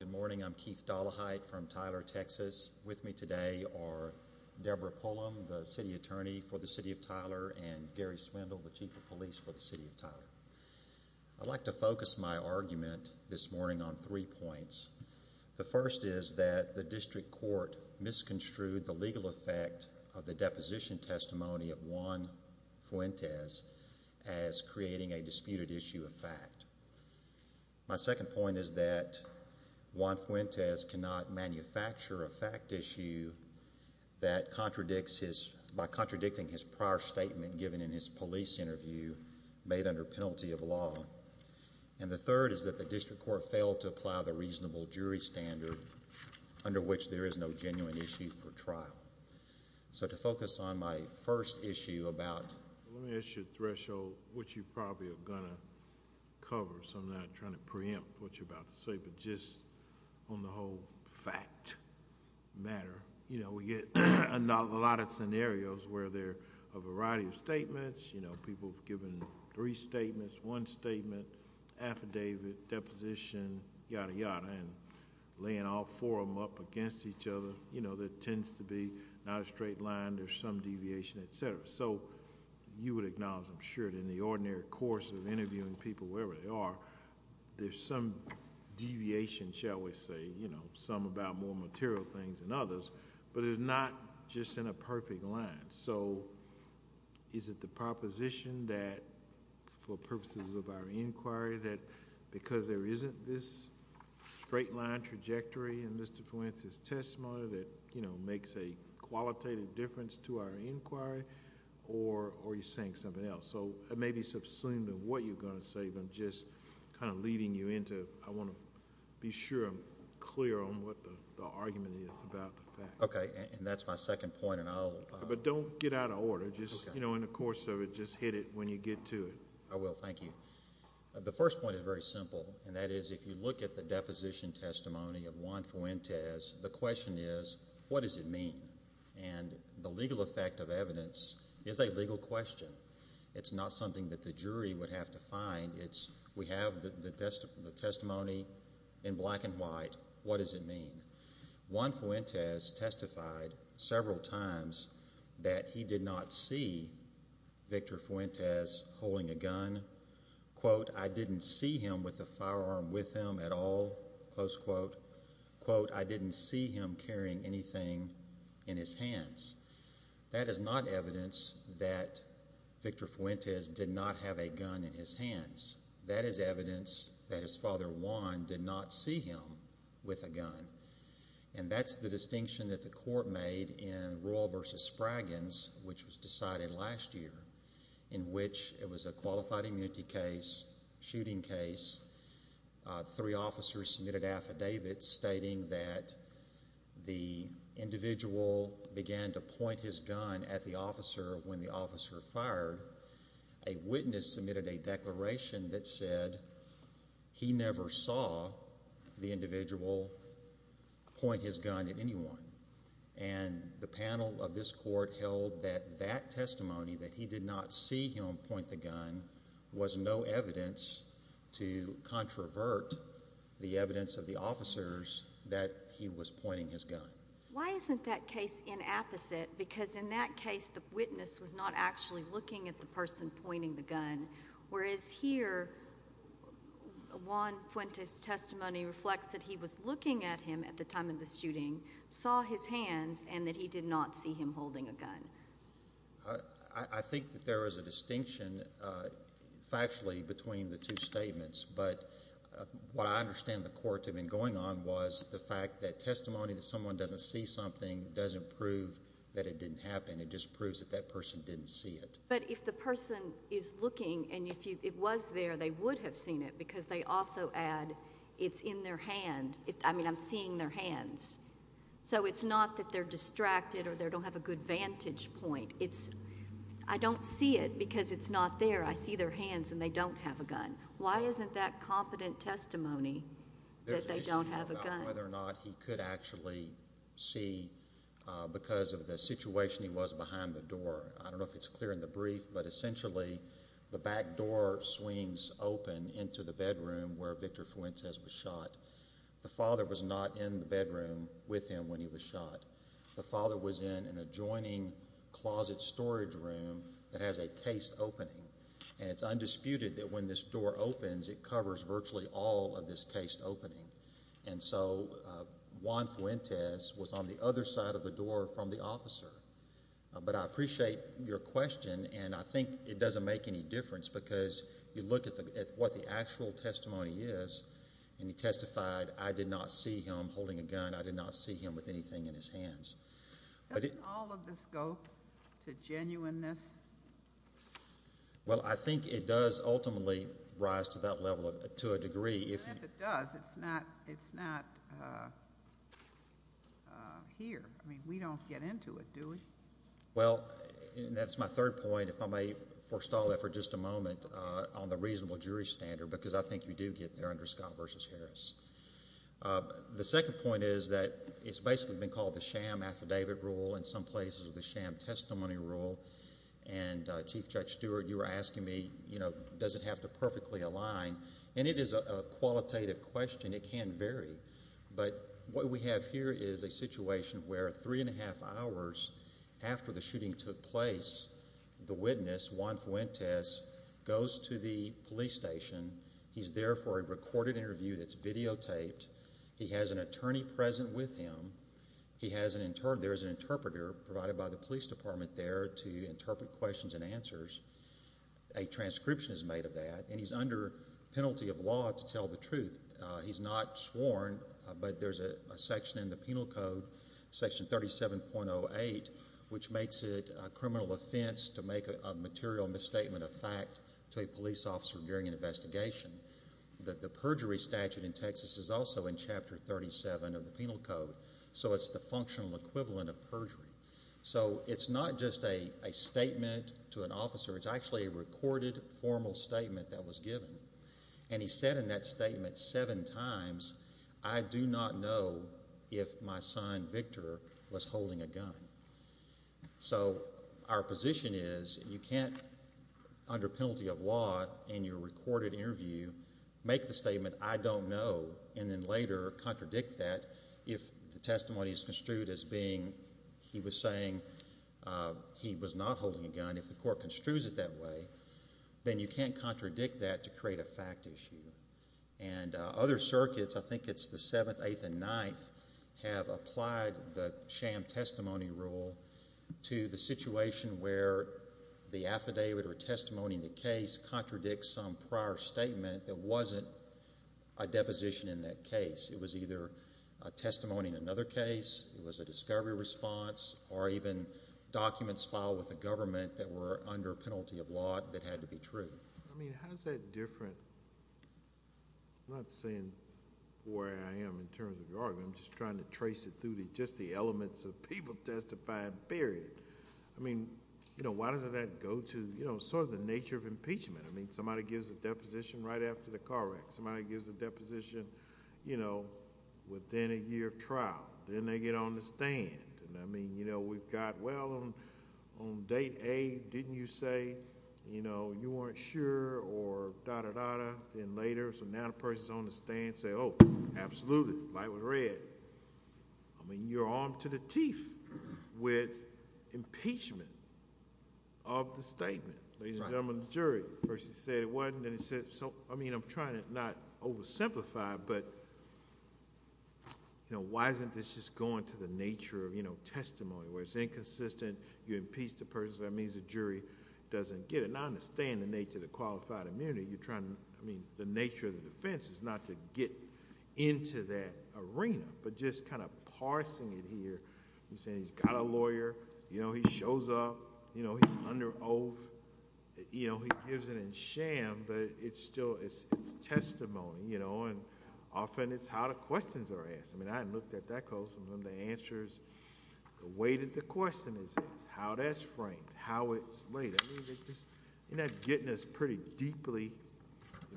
Good morning, I'm Keith Dollaheit from Tyler, Texas. With me today are Deborah Pullum, the City Attorney for the City of Tyler, and Gary Swindle, the Chief of Police for the City of Tyler. I'd like to focus my argument this morning on three points. The first is that the District Court misconstrued the legal effect of the deposition testimony of Juan Fuentes as creating a disputed issue of fact. My second point is that Juan Fuentes cannot manufacture a fact issue by contradicting his prior statement given in his police interview made under penalty of law. And the third is that the District Court failed to apply the reasonable jury standard under which there is no genuine issue for trial. So to focus on my first issue about... Let me ask you a threshold, which you probably are going to cover, so I'm not trying to preempt what you're about to say, but just on the whole fact matter. You know, we get a lot of scenarios where there are a variety of statements, you know, people giving three statements, one statement, affidavit, deposition, yada, yada, and laying all four of them up against each other. You know, there tends to be not a straight line, there's some deviation, et cetera. So you would acknowledge, I'm sure, that in the ordinary course of interviewing people, wherever they are, there's some deviation, shall we say, you know, some about more material things than others, but it's not just in a perfect line. So is it the proposition that, for purposes of our inquiry, that because there isn't this straight line trajectory in Mr. Fuentes' testimony that, you know, makes a qualitative difference to our inquiry, or are you saying something else? So it may be subsumed to what you're going to say, but I'm just kind of leading you into... I want to be sure I'm clear on what the argument is about the fact. Okay, and that's my second point, and I'll... But don't get out of order. Okay. Just, you know, in the course of it, just hit it when you get to it. I will. Thank you. The first point is very simple, and that is, if you look at the deposition testimony of Juan Fuentes, the question is, what does it mean? And the legal effect of evidence is a legal question. It's not something that the jury would have to find. We have the testimony in black and white. What does it mean? Juan Fuentes testified several times that he did not see Victor Fuentes holding a gun. Quote, I didn't see him with a firearm with him at all, close quote. Quote, I didn't see him carrying anything in his hands. That is not evidence that Victor Fuentes did not have a gun in his hands. That is evidence that his father, Juan, did not see him with a gun, and that's the distinction that the court made in Royal v. Spragans, which was decided last year, in which it was a qualified immunity case, shooting case. Three officers submitted affidavits stating that the individual began to point his gun at the officer when the officer fired. A witness submitted a declaration that said he never saw the individual point his gun at anyone, and the panel of this court held that that testimony, that he did not see him point the gun, was no evidence to controvert the evidence of the officers that he was pointing his gun. Why isn't that case inapposite? Because in that case the witness was not actually looking at the person pointing the gun, whereas here Juan Fuentes' testimony reflects that he was looking at him at the time of the shooting, saw his hands, and that he did not see him holding a gun. I think that there is a distinction factually between the two statements, but what I understand the court had been going on was the fact that testimony that someone doesn't see something doesn't prove that it didn't happen. It just proves that that person didn't see it. But if the person is looking and it was there, they would have seen it because they also add it's in their hand. I mean, I'm seeing their hands. So it's not that they're distracted or they don't have a good vantage point. It's I don't see it because it's not there. I see their hands and they don't have a gun. Why isn't that confident testimony that they don't have a gun? There's an issue about whether or not he could actually see because of the situation he was behind the door. I don't know if it's clear in the brief, but essentially the back door swings open into the bedroom where Victor Fuentes was shot. The father was not in the bedroom with him when he was shot. The father was in an adjoining closet storage room that has a cased opening, and it's undisputed that when this door opens, it covers virtually all of this cased opening. And so Juan Fuentes was on the other side of the door from the officer. But I appreciate your question, and I think it doesn't make any difference because you look at what the actual testimony is, and he testified, I did not see him holding a gun. I did not see him with anything in his hands. Doesn't all of this go to genuineness? Well, I think it does ultimately rise to that level, to a degree. And if it does, it's not here. I mean, we don't get into it, do we? Well, that's my third point, if I may forestall that for just a moment, on the reasonable jury standard The second point is that it's basically been called the sham affidavit rule. In some places, the sham testimony rule. And Chief Judge Stewart, you were asking me, you know, does it have to perfectly align? And it is a qualitative question. It can vary. But what we have here is a situation where three and a half hours after the shooting took place, the witness, Juan Fuentes, goes to the police station. He's there for a recorded interview that's videotaped. He has an attorney present with him. There is an interpreter provided by the police department there to interpret questions and answers. A transcription is made of that, and he's under penalty of law to tell the truth. He's not sworn, but there's a section in the penal code, section 37.08, which makes it a criminal offense to make a material misstatement of fact to a police officer during an investigation. The perjury statute in Texas is also in Chapter 37 of the penal code. So it's the functional equivalent of perjury. So it's not just a statement to an officer. It's actually a recorded formal statement that was given. And he said in that statement seven times, I do not know if my son, Victor, was holding a gun. So our position is you can't, under penalty of law in your recorded interview, make the statement, I don't know, and then later contradict that if the testimony is construed as being he was saying he was not holding a gun. And if the court construes it that way, then you can't contradict that to create a fact issue. And other circuits, I think it's the 7th, 8th, and 9th, have applied the sham testimony rule to the situation where the affidavit or testimony in the case contradicts some prior statement that wasn't a deposition in that case. It was either a testimony in another case, it was a discovery response, or even documents filed with the government that were under penalty of law that had to be true. I mean, how is that different? I'm not saying where I am in terms of the argument. I'm just trying to trace it through just the elements of people testifying, period. I mean, why doesn't that go to sort of the nature of impeachment? I mean, somebody gives a deposition right after the car wreck. Somebody gives a deposition within a year of trial. Then they get on the stand. I mean, you know, we've got, well, on date A, didn't you say, you know, you weren't sure, or da-da-da-da. Then later, so now the person's on the stand saying, oh, absolutely, light was red. I mean, you're armed to the teeth with impeachment of the statement, ladies and gentlemen of the jury. First he said it wasn't, then he said... I mean, I'm trying to not oversimplify, but, you know, why isn't this just going to the nature of, you know, testimony, where it's inconsistent. You impeach the person. That means the jury doesn't get it. Now, I understand the nature of the qualified immunity. You're trying to... I mean, the nature of the defense is not to get into that arena, but just kind of parsing it here and saying he's got a lawyer. You know, he shows up. You know, he's under oath. You know, he gives it in sham, but it's still testimony, you know, and often it's how the questions are asked. I mean, I haven't looked at that closely. I mean, the answer is the way that the question is asked, how that's framed, how it's laid. I mean, you're not getting us pretty deeply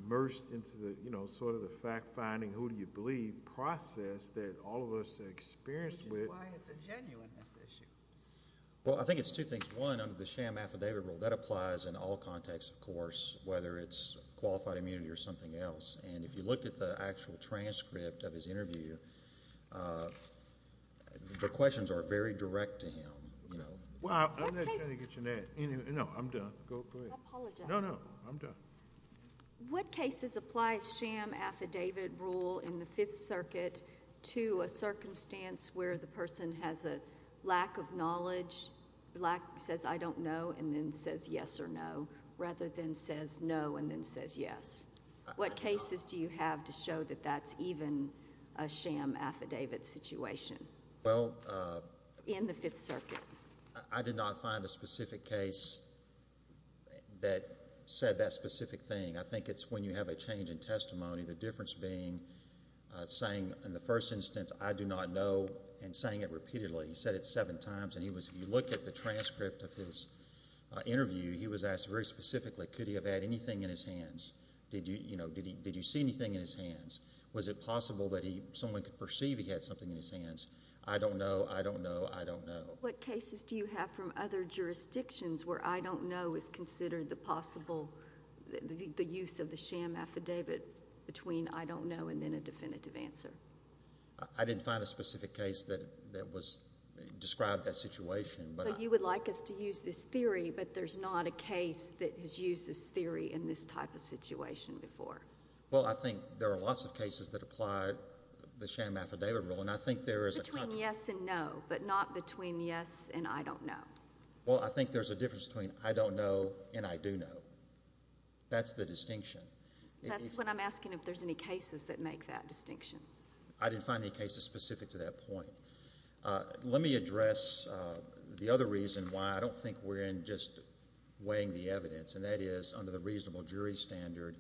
immersed into the, you know, sort of the fact-finding, who do you believe process that all of us are experienced with. Which is why it's a genuineness issue. Well, I think it's two things. One, under the sham affidavit rule, that applies in all contexts, of course, whether it's qualified immunity or something else. And if you look at the actual transcript of his interview, the questions are very direct to him. Well, I'm not trying to get your net. No, I'm done. Go ahead. I apologize. No, no, I'm done. What cases apply sham affidavit rule in the Fifth Circuit to a circumstance where the person has a lack of knowledge, says, I don't know, and then says yes or no, rather than says no and then says yes? What cases do you have to show that that's even a sham affidavit situation in the Fifth Circuit? I did not find a specific case that said that specific thing. I think it's when you have a change in testimony. The difference being saying in the first instance, I do not know, and saying it repeatedly. He said it seven times, and he was going to look at the transcript of his interview. He was asked very specifically, could he have had anything in his hands? Did you see anything in his hands? Was it possible that someone could perceive he had something in his hands? I don't know. I don't know. I don't know. What cases do you have from other jurisdictions where I don't know is considered the possible, the use of the sham affidavit between I don't know and then a definitive answer? I didn't find a specific case that described that situation. So you would like us to use this theory, but there's not a case that has used this theory in this type of situation before? Well, I think there are lots of cases that apply the sham affidavit rule. Between yes and no, but not between yes and I don't know. Well, I think there's a difference between I don't know and I do know. That's the distinction. That's what I'm asking if there's any cases that make that distinction. I didn't find any cases specific to that point. Let me address the other reason why I don't think we're in just weighing the evidence, and that is under the reasonable jury standard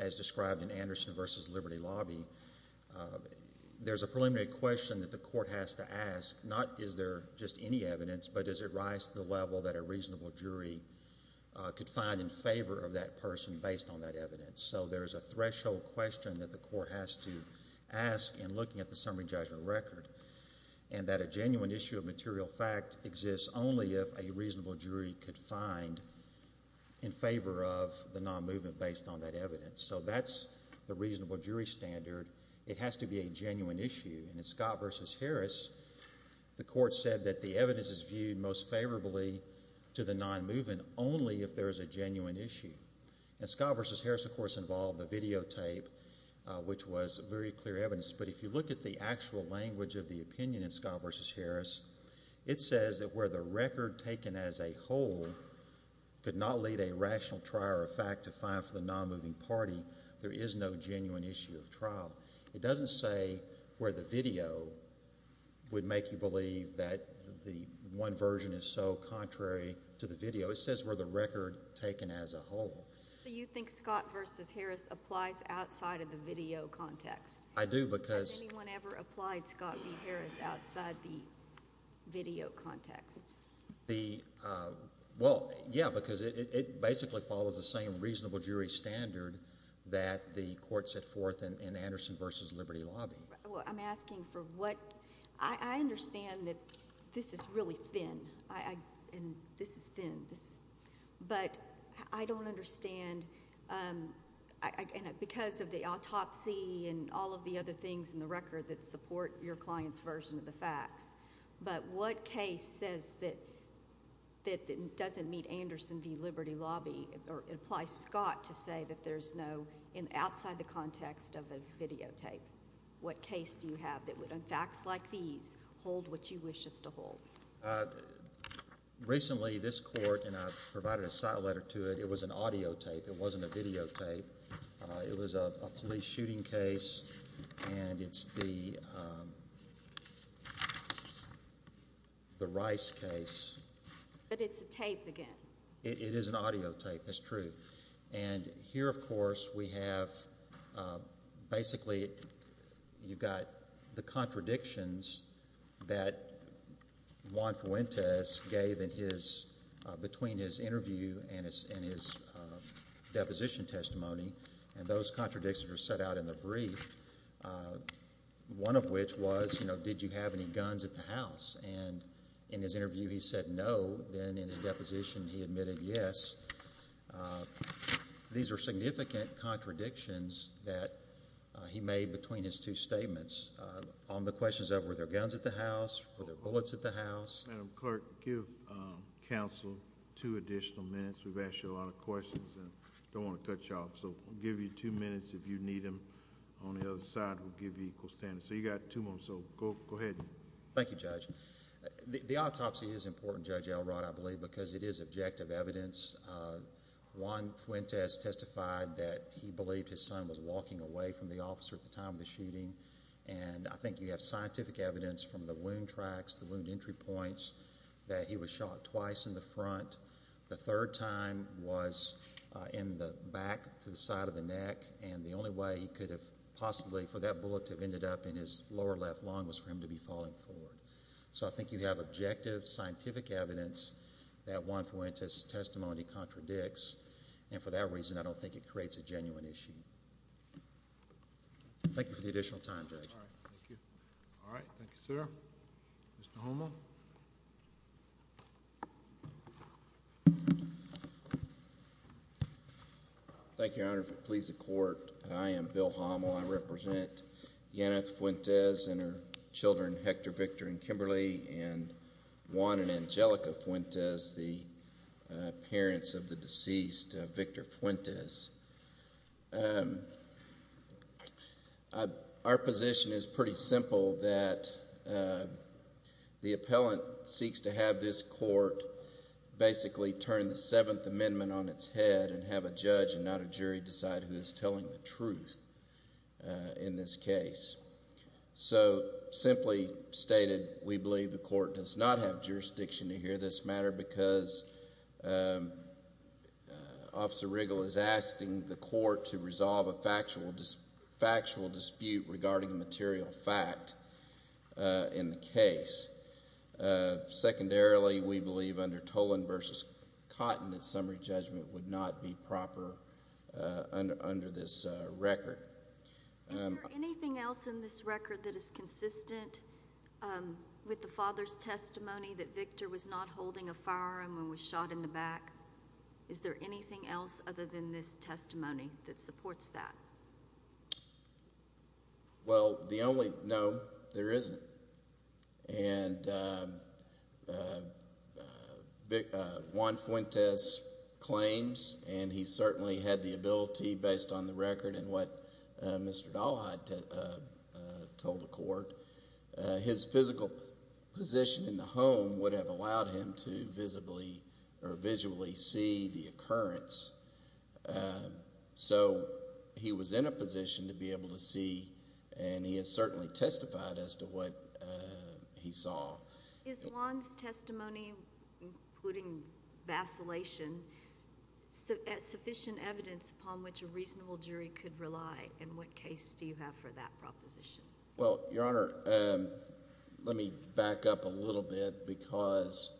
as described in Anderson v. Liberty Lobby, there's a preliminary question that the court has to ask, not is there just any evidence, but does it rise to the level that a reasonable jury could find in favor of that person based on that evidence? So there's a threshold question that the court has to ask in looking at the summary judgment record, and that a genuine issue of material fact exists only if a reasonable jury could find in favor of the non-movement based on that evidence. So that's the reasonable jury standard. It has to be a genuine issue. And in Scott v. Harris, the court said that the evidence is viewed most favorably to the non-movement only if there is a genuine issue. And Scott v. Harris, of course, involved the videotape, which was very clear evidence. But if you look at the actual language of the opinion in Scott v. Harris, it says that where the record taken as a whole could not lead a rational trial or fact to find for the non-moving party, there is no genuine issue of trial. It doesn't say where the video would make you believe that the one version is so contrary to the video. It says where the record taken as a whole. So you think Scott v. Harris applies outside of the video context? I do because – Has anyone ever applied Scott v. Harris outside the video context? Well, yeah, because it basically follows the same reasonable jury standard that the court set forth in Anderson v. Liberty Lobby. I'm asking for what – I understand that this is really thin, and this is thin. But I don't understand – and because of the autopsy and all of the other things in the record that support your client's version of the facts. But what case says that it doesn't meet Anderson v. Liberty Lobby or applies Scott to say that there's no – outside the context of a videotape? What case do you have that would, on facts like these, hold what you wish us to hold? Recently, this court – and I provided a site letter to it. It was an audio tape. It wasn't a videotape. It was a police shooting case, and it's the Rice case. But it's a tape again. It is an audio tape. It's true. And here, of course, we have – basically, you've got the contradictions that Juan Fuentes gave in his – between his interview and his deposition testimony, and those contradictions are set out in the brief, one of which was, you know, did you have any guns at the house? And in his interview, he said no. Then in his deposition, he admitted yes. These are significant contradictions that he made between his two statements. On the questions of were there guns at the house, were there bullets at the house. Madam Clerk, give counsel two additional minutes. We've asked you a lot of questions and don't want to cut you off, so we'll give you two minutes if you need them. On the other side, we'll give you equal standing. So you've got two minutes, so go ahead. Thank you, Judge. The autopsy is important, Judge Elrod, I believe, because it is objective evidence. Juan Fuentes testified that he believed his son was walking away from the officer at the time of the shooting, and I think you have scientific evidence from the wound tracks, the wound entry points, that he was shot twice in the front. The third time was in the back to the side of the neck, and the only way he could have possibly, for that bullet to have ended up in his lower left lung, was for him to be falling forward. So I think you have objective scientific evidence that Juan Fuentes' testimony contradicts, and for that reason, I don't think it creates a genuine issue. Thank you for the additional time, Judge. All right. Thank you, sir. Mr. Homo. Mr. Homo. Thank you, Your Honor, for the pleas of court. I am Bill Homo. I represent Yaneth Fuentes and her children, Hector, Victor, and Kimberly, and Juan and Angelica Fuentes, the parents of the deceased, Victor Fuentes. Our position is pretty simple, that the appellant seeks to have this court basically turn the Seventh Amendment on its head and have a judge and not a jury decide who is telling the truth in this case. So simply stated, we believe the court does not have jurisdiction to hear this matter because Officer Riggle is asking the court to resolve a factual dispute regarding a material fact in the case. Secondarily, we believe under Tolan v. Cotton that summary judgment would not be proper under this record. Is there anything else in this record that is consistent with the father's testimony that Victor was not holding a firearm and was shot in the back? Is there anything else other than this testimony that supports that? Well, the only no there isn't, and Juan Fuentes claims, and he certainly had the ability based on the record and what Mr. Dalhite told the court, his physical position in the home would have allowed him to visibly or visually see the occurrence. So he was in a position to be able to see, and he has certainly testified as to what he saw. Is Juan's testimony, including vacillation, sufficient evidence upon which a reasonable jury could rely, and what case do you have for that proposition? Well, Your Honor, let me back up a little bit because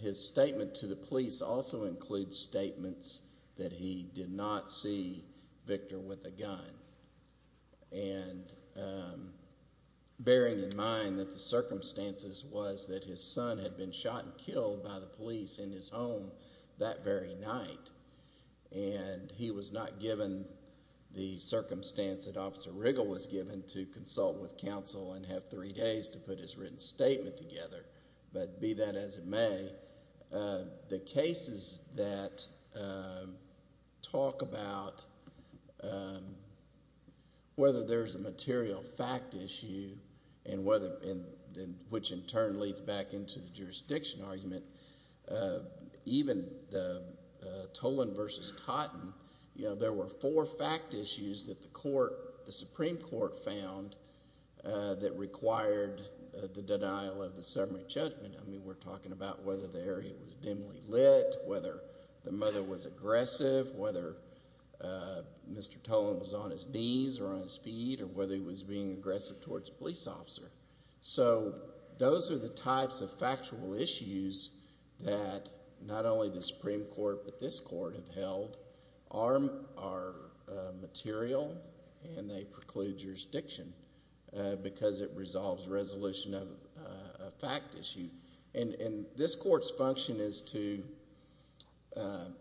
his statement to the police also includes statements that he did not see Victor with a gun, and bearing in mind that the circumstances was that his son had been shot and killed by the police in his home that very night, and he was not given the circumstance that Officer Riggle was given to consult with counsel and have three days to put his written statement together, but be that as it may, the cases that talk about whether there's a material fact issue, which in turn leads back into the jurisdiction argument, even Toland v. Cotton, there were four fact issues that the Supreme Court found that required the denial of the summary judgment. I mean, we're talking about whether the area was dimly lit, whether the mother was aggressive, whether Mr. Toland was on his knees or on his feet, or whether he was being aggressive towards a police officer. So those are the types of factual issues that not only the Supreme Court but this court have held are material, and they preclude jurisdiction because it resolves resolution of a fact issue. And this court's function is to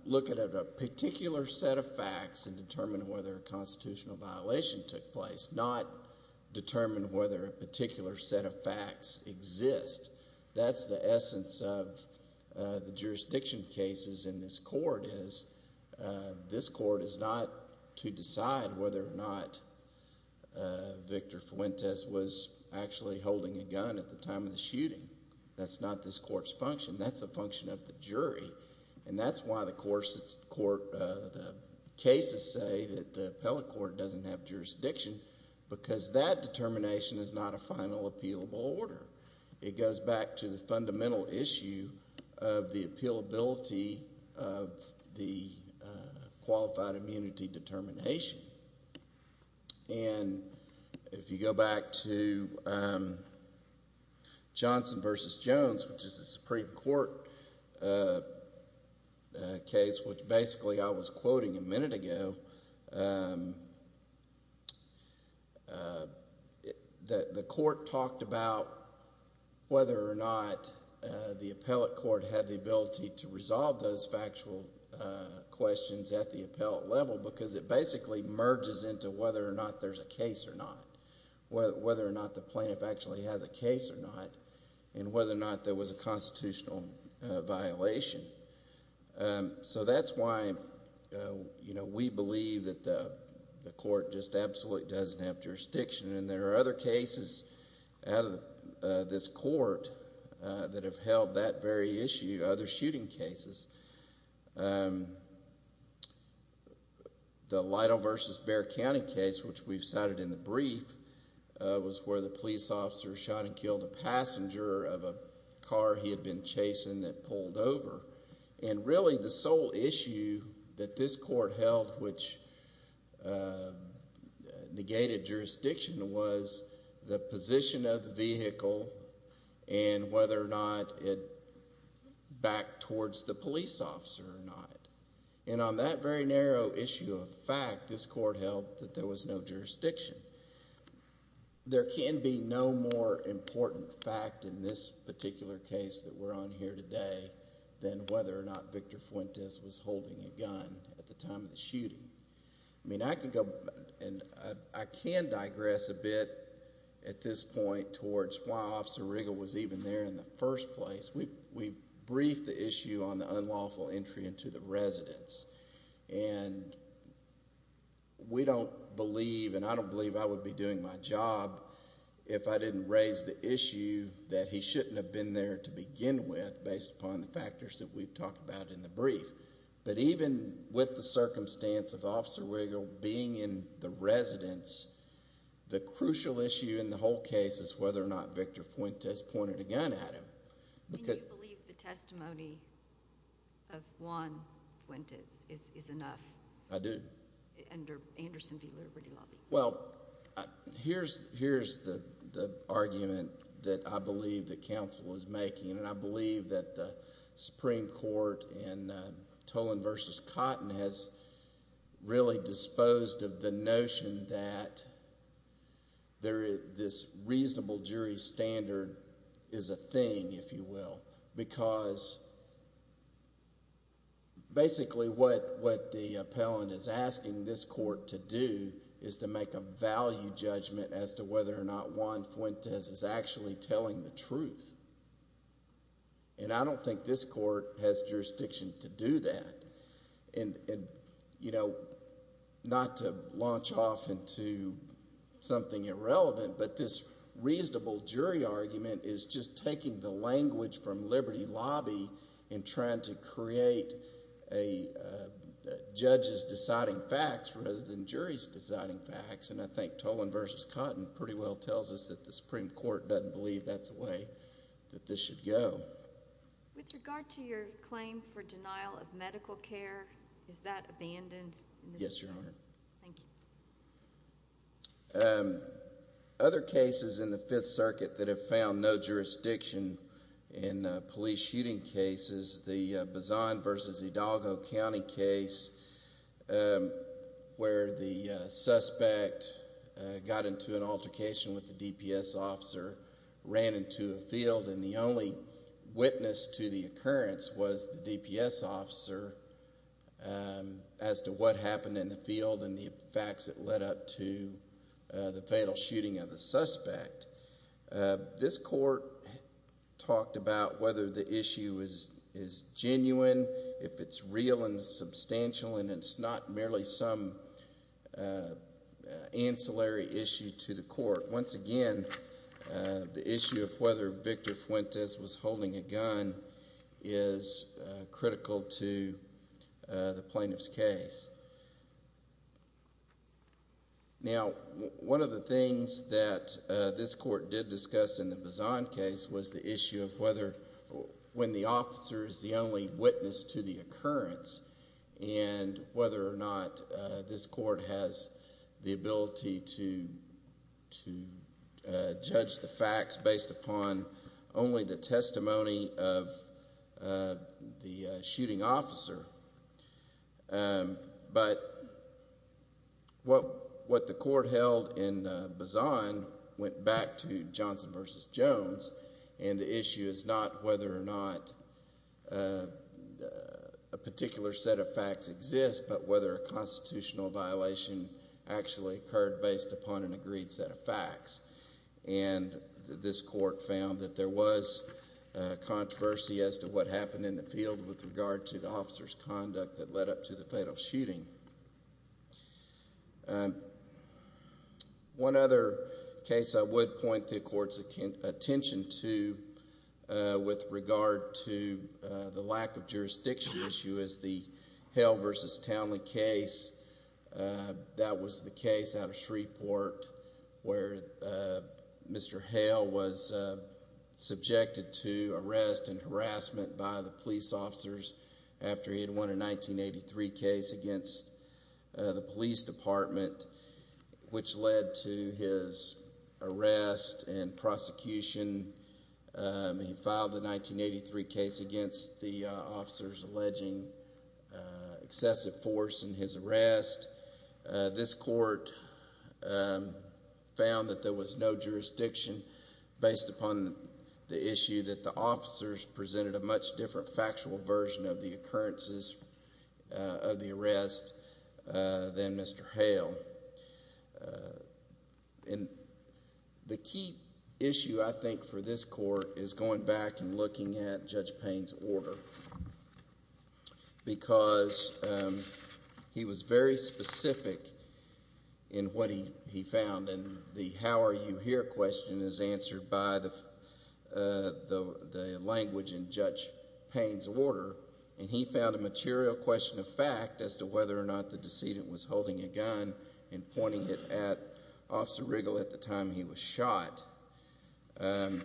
look at a particular set of facts and determine whether a constitutional violation took place, not determine whether a particular set of facts exist. That's the essence of the jurisdiction cases in this court, is this court is not to decide whether or not Victor Fuentes was actually holding a gun at the time of the shooting. That's not this court's function. That's a function of the jury, and that's why the cases say that the appellate court doesn't have jurisdiction because that determination is not a final appealable order. It goes back to the fundamental issue of the appealability of the qualified immunity determination. And if you go back to Johnson v. Jones, which is a Supreme Court case, which basically I was quoting a minute ago, the court talked about whether or not the appellate court had the ability to resolve those factual questions at the appellate level because it basically merges into whether or not there's a case or not, whether or not the plaintiff actually has a case or not, and whether or not there was a constitutional violation. So that's why we believe that the court just absolutely doesn't have jurisdiction. And there are other cases out of this court that have held that very issue, other shooting cases. The Lytle v. Bexar County case, which we've cited in the brief, was where the police officer shot and killed a passenger of a car he had been chasing that pulled over. And really the sole issue that this court held which negated jurisdiction was the position of the vehicle and whether or not it backed towards the police officer or not. And on that very narrow issue of fact, this court held that there was no jurisdiction. There can be no more important fact in this particular case that we're on here today than whether or not Victor Fuentes was holding a gun at the time of the shooting. I can digress a bit at this point towards why Officer Riggle was even there in the first place. We briefed the issue on the unlawful entry into the residence. And we don't believe and I don't believe I would be doing my job if I didn't raise the issue that he shouldn't have been there to begin with based upon the factors that we've talked about in the brief. But even with the circumstance of Officer Riggle being in the residence, the crucial issue in the whole case is whether or not Victor Fuentes pointed a gun at him. Do you believe the testimony of Juan Fuentes is enough? I do. Under Anderson v. Liberty Lobby? Well, here's the argument that I believe that counsel is making. And I believe that the Supreme Court in Tolan v. Cotton has really disposed of the notion that this reasonable jury standard is a thing, if you will, because basically what the appellant is asking this court to do is to make a value judgment as to whether or not Juan Fuentes is actually telling the truth. And I don't think this court has jurisdiction to do that. And, you know, not to launch off into something irrelevant, but this reasonable jury argument is just taking the language from Liberty Lobby and trying to create a judge's deciding facts rather than jury's deciding facts. And I think Tolan v. Cotton pretty well tells us that the Supreme Court doesn't believe that's the way that this should go. With regard to your claim for denial of medical care, is that abandoned? Yes, Your Honor. Thank you. Other cases in the Fifth Circuit that have found no jurisdiction in police shooting cases, the Bazan v. Hidalgo County case where the suspect got into an altercation with the DPS officer, ran into a field. And the only witness to the occurrence was the DPS officer as to what happened in the field and the facts that led up to the fatal shooting of the suspect. This court talked about whether the issue is genuine, if it's real and substantial, and it's not merely some ancillary issue to the court. Once again, the issue of whether Victor Fuentes was holding a gun is critical to the plaintiff's case. Now, one of the things that this court did discuss in the Bazan case was the issue of whether when the officer is the only witness to the occurrence and whether or not this court has the ability to judge the facts based upon only the testimony of the shooting officer. But what the court held in Bazan went back to Johnson v. Jones, and the issue is not whether or not a particular set of facts exist, but whether a constitutional violation actually occurred based upon an agreed set of facts. And this court found that there was controversy as to what happened in the field with regard to the officer's conduct that led up to the fatal shooting. One other case I would point the court's attention to with regard to the lack of jurisdiction issue is the Hale v. Townley case. That was the case out of Shreveport where Mr. Hale was subjected to arrest and harassment by the police officers after he had won a 1983 case against the police department, which led to his arrest and prosecution. He filed the 1983 case against the officers alleging excessive force in his arrest. This court found that there was no jurisdiction based upon the issue that the officers presented a much different factual version of the occurrences of the arrest than Mr. Hale. The key issue, I think, for this court is going back and looking at Judge Payne's order because he was very specific in what he found. The how are you here question is answered by the language in Judge Payne's order, and he found a material question of fact as to whether or not the decedent was holding a gun and pointing it at Officer Riggle at the time he was shot. He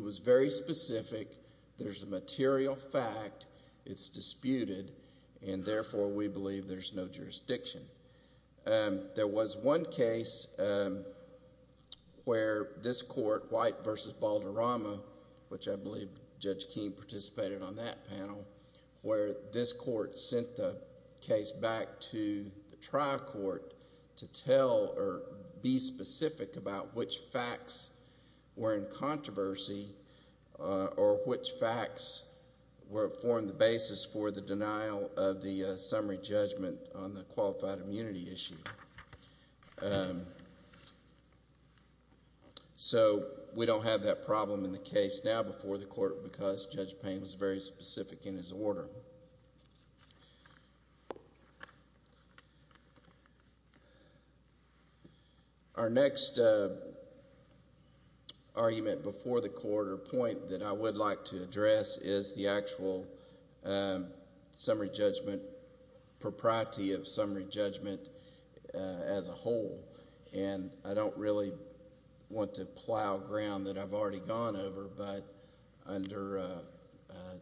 was very specific. There's a material fact. It's disputed, and therefore we believe there's no jurisdiction. There was one case where this court, White v. Balderrama, which I believe Judge Keene participated on that panel, where this court sent the case back to the trial court to tell or be specific about which facts were in controversy or which facts formed the basis for the denial of the summary judgment on the qualified officer. It was a qualified immunity issue. So we don't have that problem in the case now before the court because Judge Payne was very specific in his order. Our next argument before the court or point that I would like to address is the actual summary judgment propriety of summary judgment as a whole, and I don't really want to plow ground that I've already gone over. But under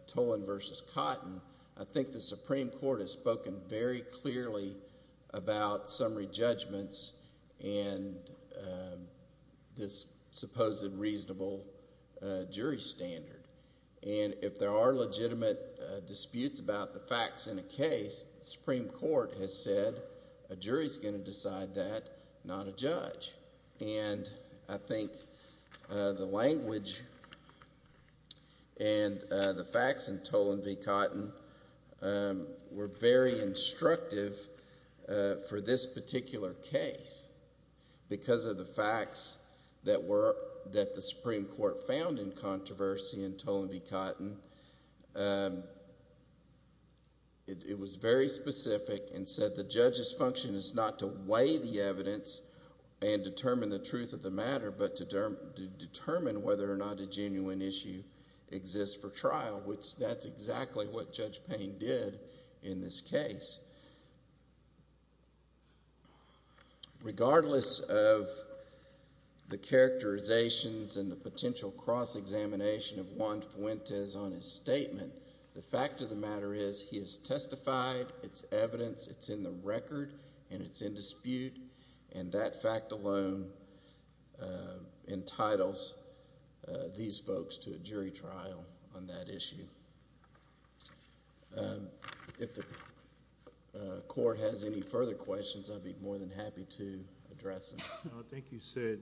Tolan v. Cotton, I think the Supreme Court has spoken very clearly about summary judgments and this supposed reasonable jury standard. And if there are legitimate disputes about the facts in a case, the Supreme Court has said a jury's going to decide that, not a judge. And I think the language and the facts in Tolan v. Cotton were very instructive for this particular case because of the facts that the Supreme Court found in controversy in Tolan v. Cotton. It was very specific and said the judge's function is not to weigh the evidence and determine the truth of the matter, but to determine whether or not a genuine issue exists for trial, which that's exactly what Judge Payne did in this case. Regardless of the characterizations and the potential cross-examination of Juan Fuentes on his statement, the fact of the matter is he has testified, it's evidence, it's in the record, and it's in dispute, and that fact alone entitles these folks to a jury trial on that issue. If the court has any further questions, I'd be more than happy to address them. I think you said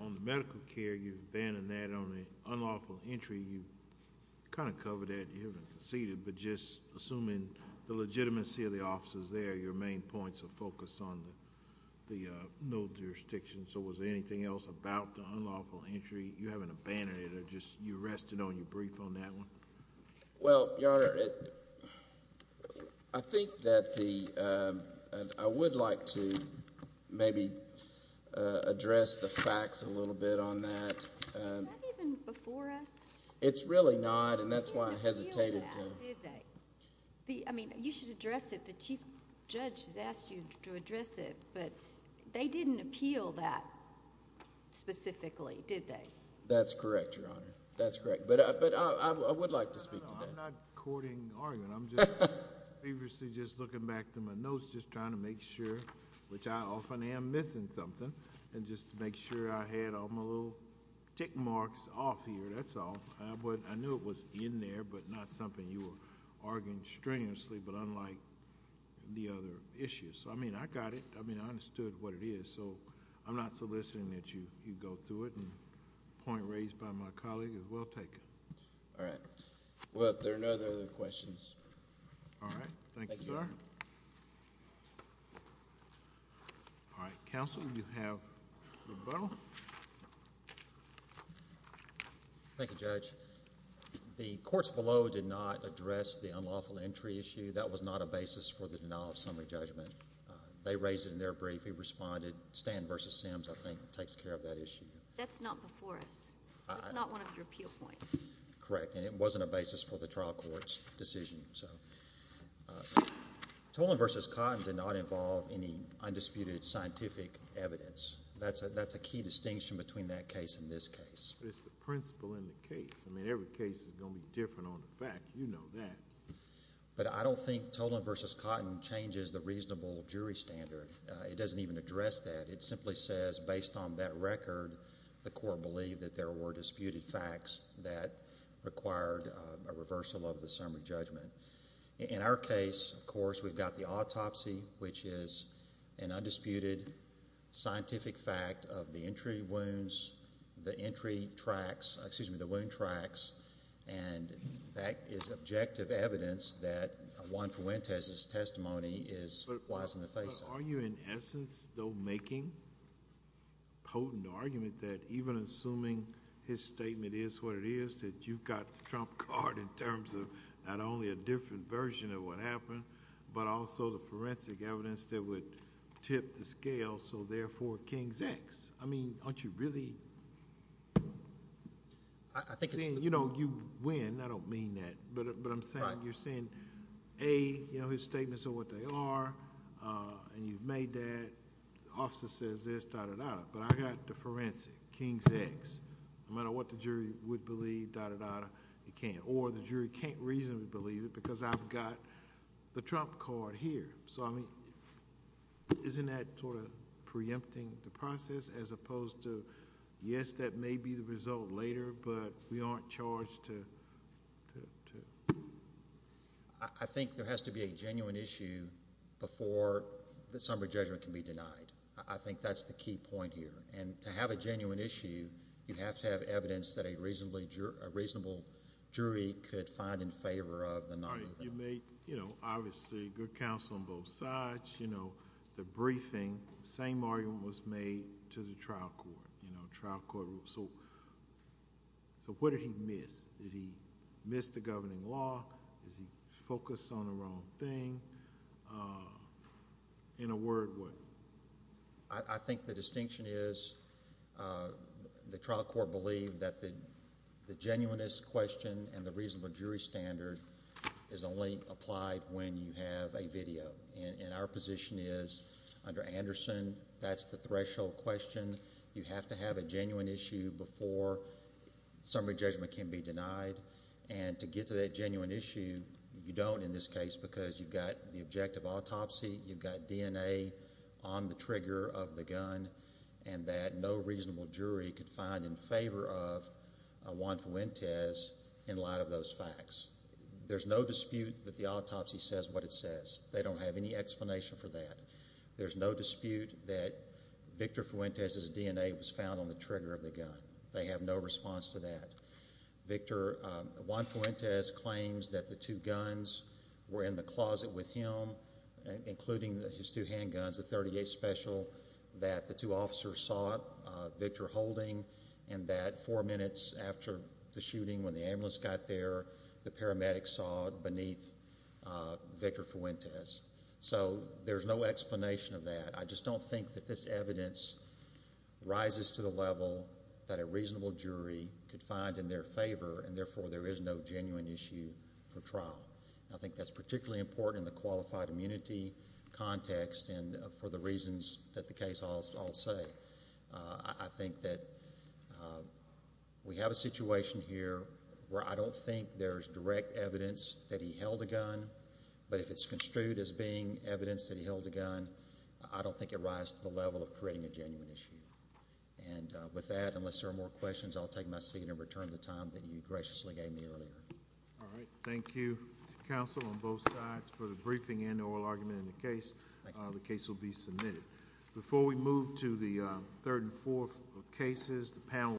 on the medical care, you've abandoned that on the unlawful entry. You kind of covered that. You haven't conceded, but just assuming the legitimacy of the officers there, your main points of focus on the no jurisdiction. So was there anything else about the unlawful entry? You haven't abandoned it. You rested on your brief on that one. Well, Your Honor, I think that the... I would like to maybe address the facts a little bit on that. Is that even before us? It's really not, and that's why I hesitated to... They didn't appeal that, did they? That's correct, Your Honor. That's correct. But I would like to speak to that. I'm not courting argument. I'm just feverishly just looking back through my notes, just trying to make sure, which I often am missing something, and just to make sure I had all my little tick marks off here. That's all. I knew it was in there, but not something you were arguing strenuously, but unlike the other issues. I mean, I got it. I mean, I understood what it is. So I'm not soliciting that you go through it, and the point raised by my colleague is well taken. All right. Well, if there are no other questions... All right. Thank you, sir. All right. Counsel, you have rebuttal. Thank you, Judge. The courts below did not address the unlawful entry issue. That was not a basis for the denial of summary judgment. They raised it in their brief. We responded. Stan v. Sims, I think, takes care of that issue. That's not before us. That's not one of your appeal points. Correct, and it wasn't a basis for the trial court's decision. Tolan v. Cotton did not involve any undisputed scientific evidence. That's a key distinction between that case and this case. It's the principle in the case. I mean, every case is going to be different on the fact. You know that. But I don't think Tolan v. Cotton changes the reasonable jury standard. It doesn't even address that. It simply says, based on that record, the court believed that there were disputed facts that required a reversal of the summary judgment. In our case, of course, we've got the autopsy, which is an undisputed scientific fact of the entry wounds, the entry tracks, excuse me, the wound tracks, and that is objective evidence that Juan Fuentes' testimony lies in the face of it. Are you, in essence, though, making a potent argument that even assuming his statement is what it is, that you've got the trump card in terms of not only a different version of what happened, but also the forensic evidence that would tip the scale, so therefore, King's X? I mean, aren't you really saying you win? I don't mean that, but I'm saying you're saying, A, his statements are what they are. You've made that. The officer says this, da-da-da-da, but I've got the forensic, King's X. No matter what the jury would believe, da-da-da-da, it can't, or the jury can't reasonably believe it because I've got the trump card here. So, I mean, isn't that sort of preempting the process as opposed to, yes, that may be the result later, but we aren't charged to... I think there has to be a genuine issue before the summary judgment can be denied. I think that's the key point here. And to have a genuine issue, you have to have evidence that a reasonable jury could find in favor of the non-movement. You made, obviously, good counsel on both sides. The briefing, same argument was made to the trial court. So, what did he miss? Did he miss the governing law? Did he focus on the wrong thing? In a word, what? I think the distinction is the trial court believed that the genuineness question and the reasonable jury standard is only applied when you have a video. And our position is, under Anderson, that's the threshold question. You have to have a genuine issue before summary judgment can be denied. And to get to that genuine issue, you don't in this case because you've got the objective autopsy, you've got DNA on the trigger of the gun, and that no reasonable jury could find in favor of Juan Fuentes in light of those facts. There's no dispute that the autopsy says what it says. They don't have any explanation for that. There's no dispute that Victor Fuentes' DNA was found on the trigger of the gun. They have no response to that. Juan Fuentes claims that the two guns were in the closet with him, including his two handguns, the .38 Special, that the two officers saw Victor holding, and that four minutes after the shooting when the ambulance got there, the paramedics saw it beneath Victor Fuentes. So there's no explanation of that. I just don't think that this evidence rises to the level that a reasonable jury could find in their favor, and therefore there is no genuine issue for trial. I think that's particularly important in the qualified immunity context and for the reasons that the case I'll say. I think that we have a situation here where I don't think there's direct evidence that he held a gun, but if it's construed as being evidence that he held a gun, I don't think it rises to the level of creating a genuine issue. And with that, unless there are more questions, I'll take my seat and return to the time that you graciously gave me earlier. All right. Thank you, counsel, on both sides for the briefing and oral argument in the case. The case will be submitted.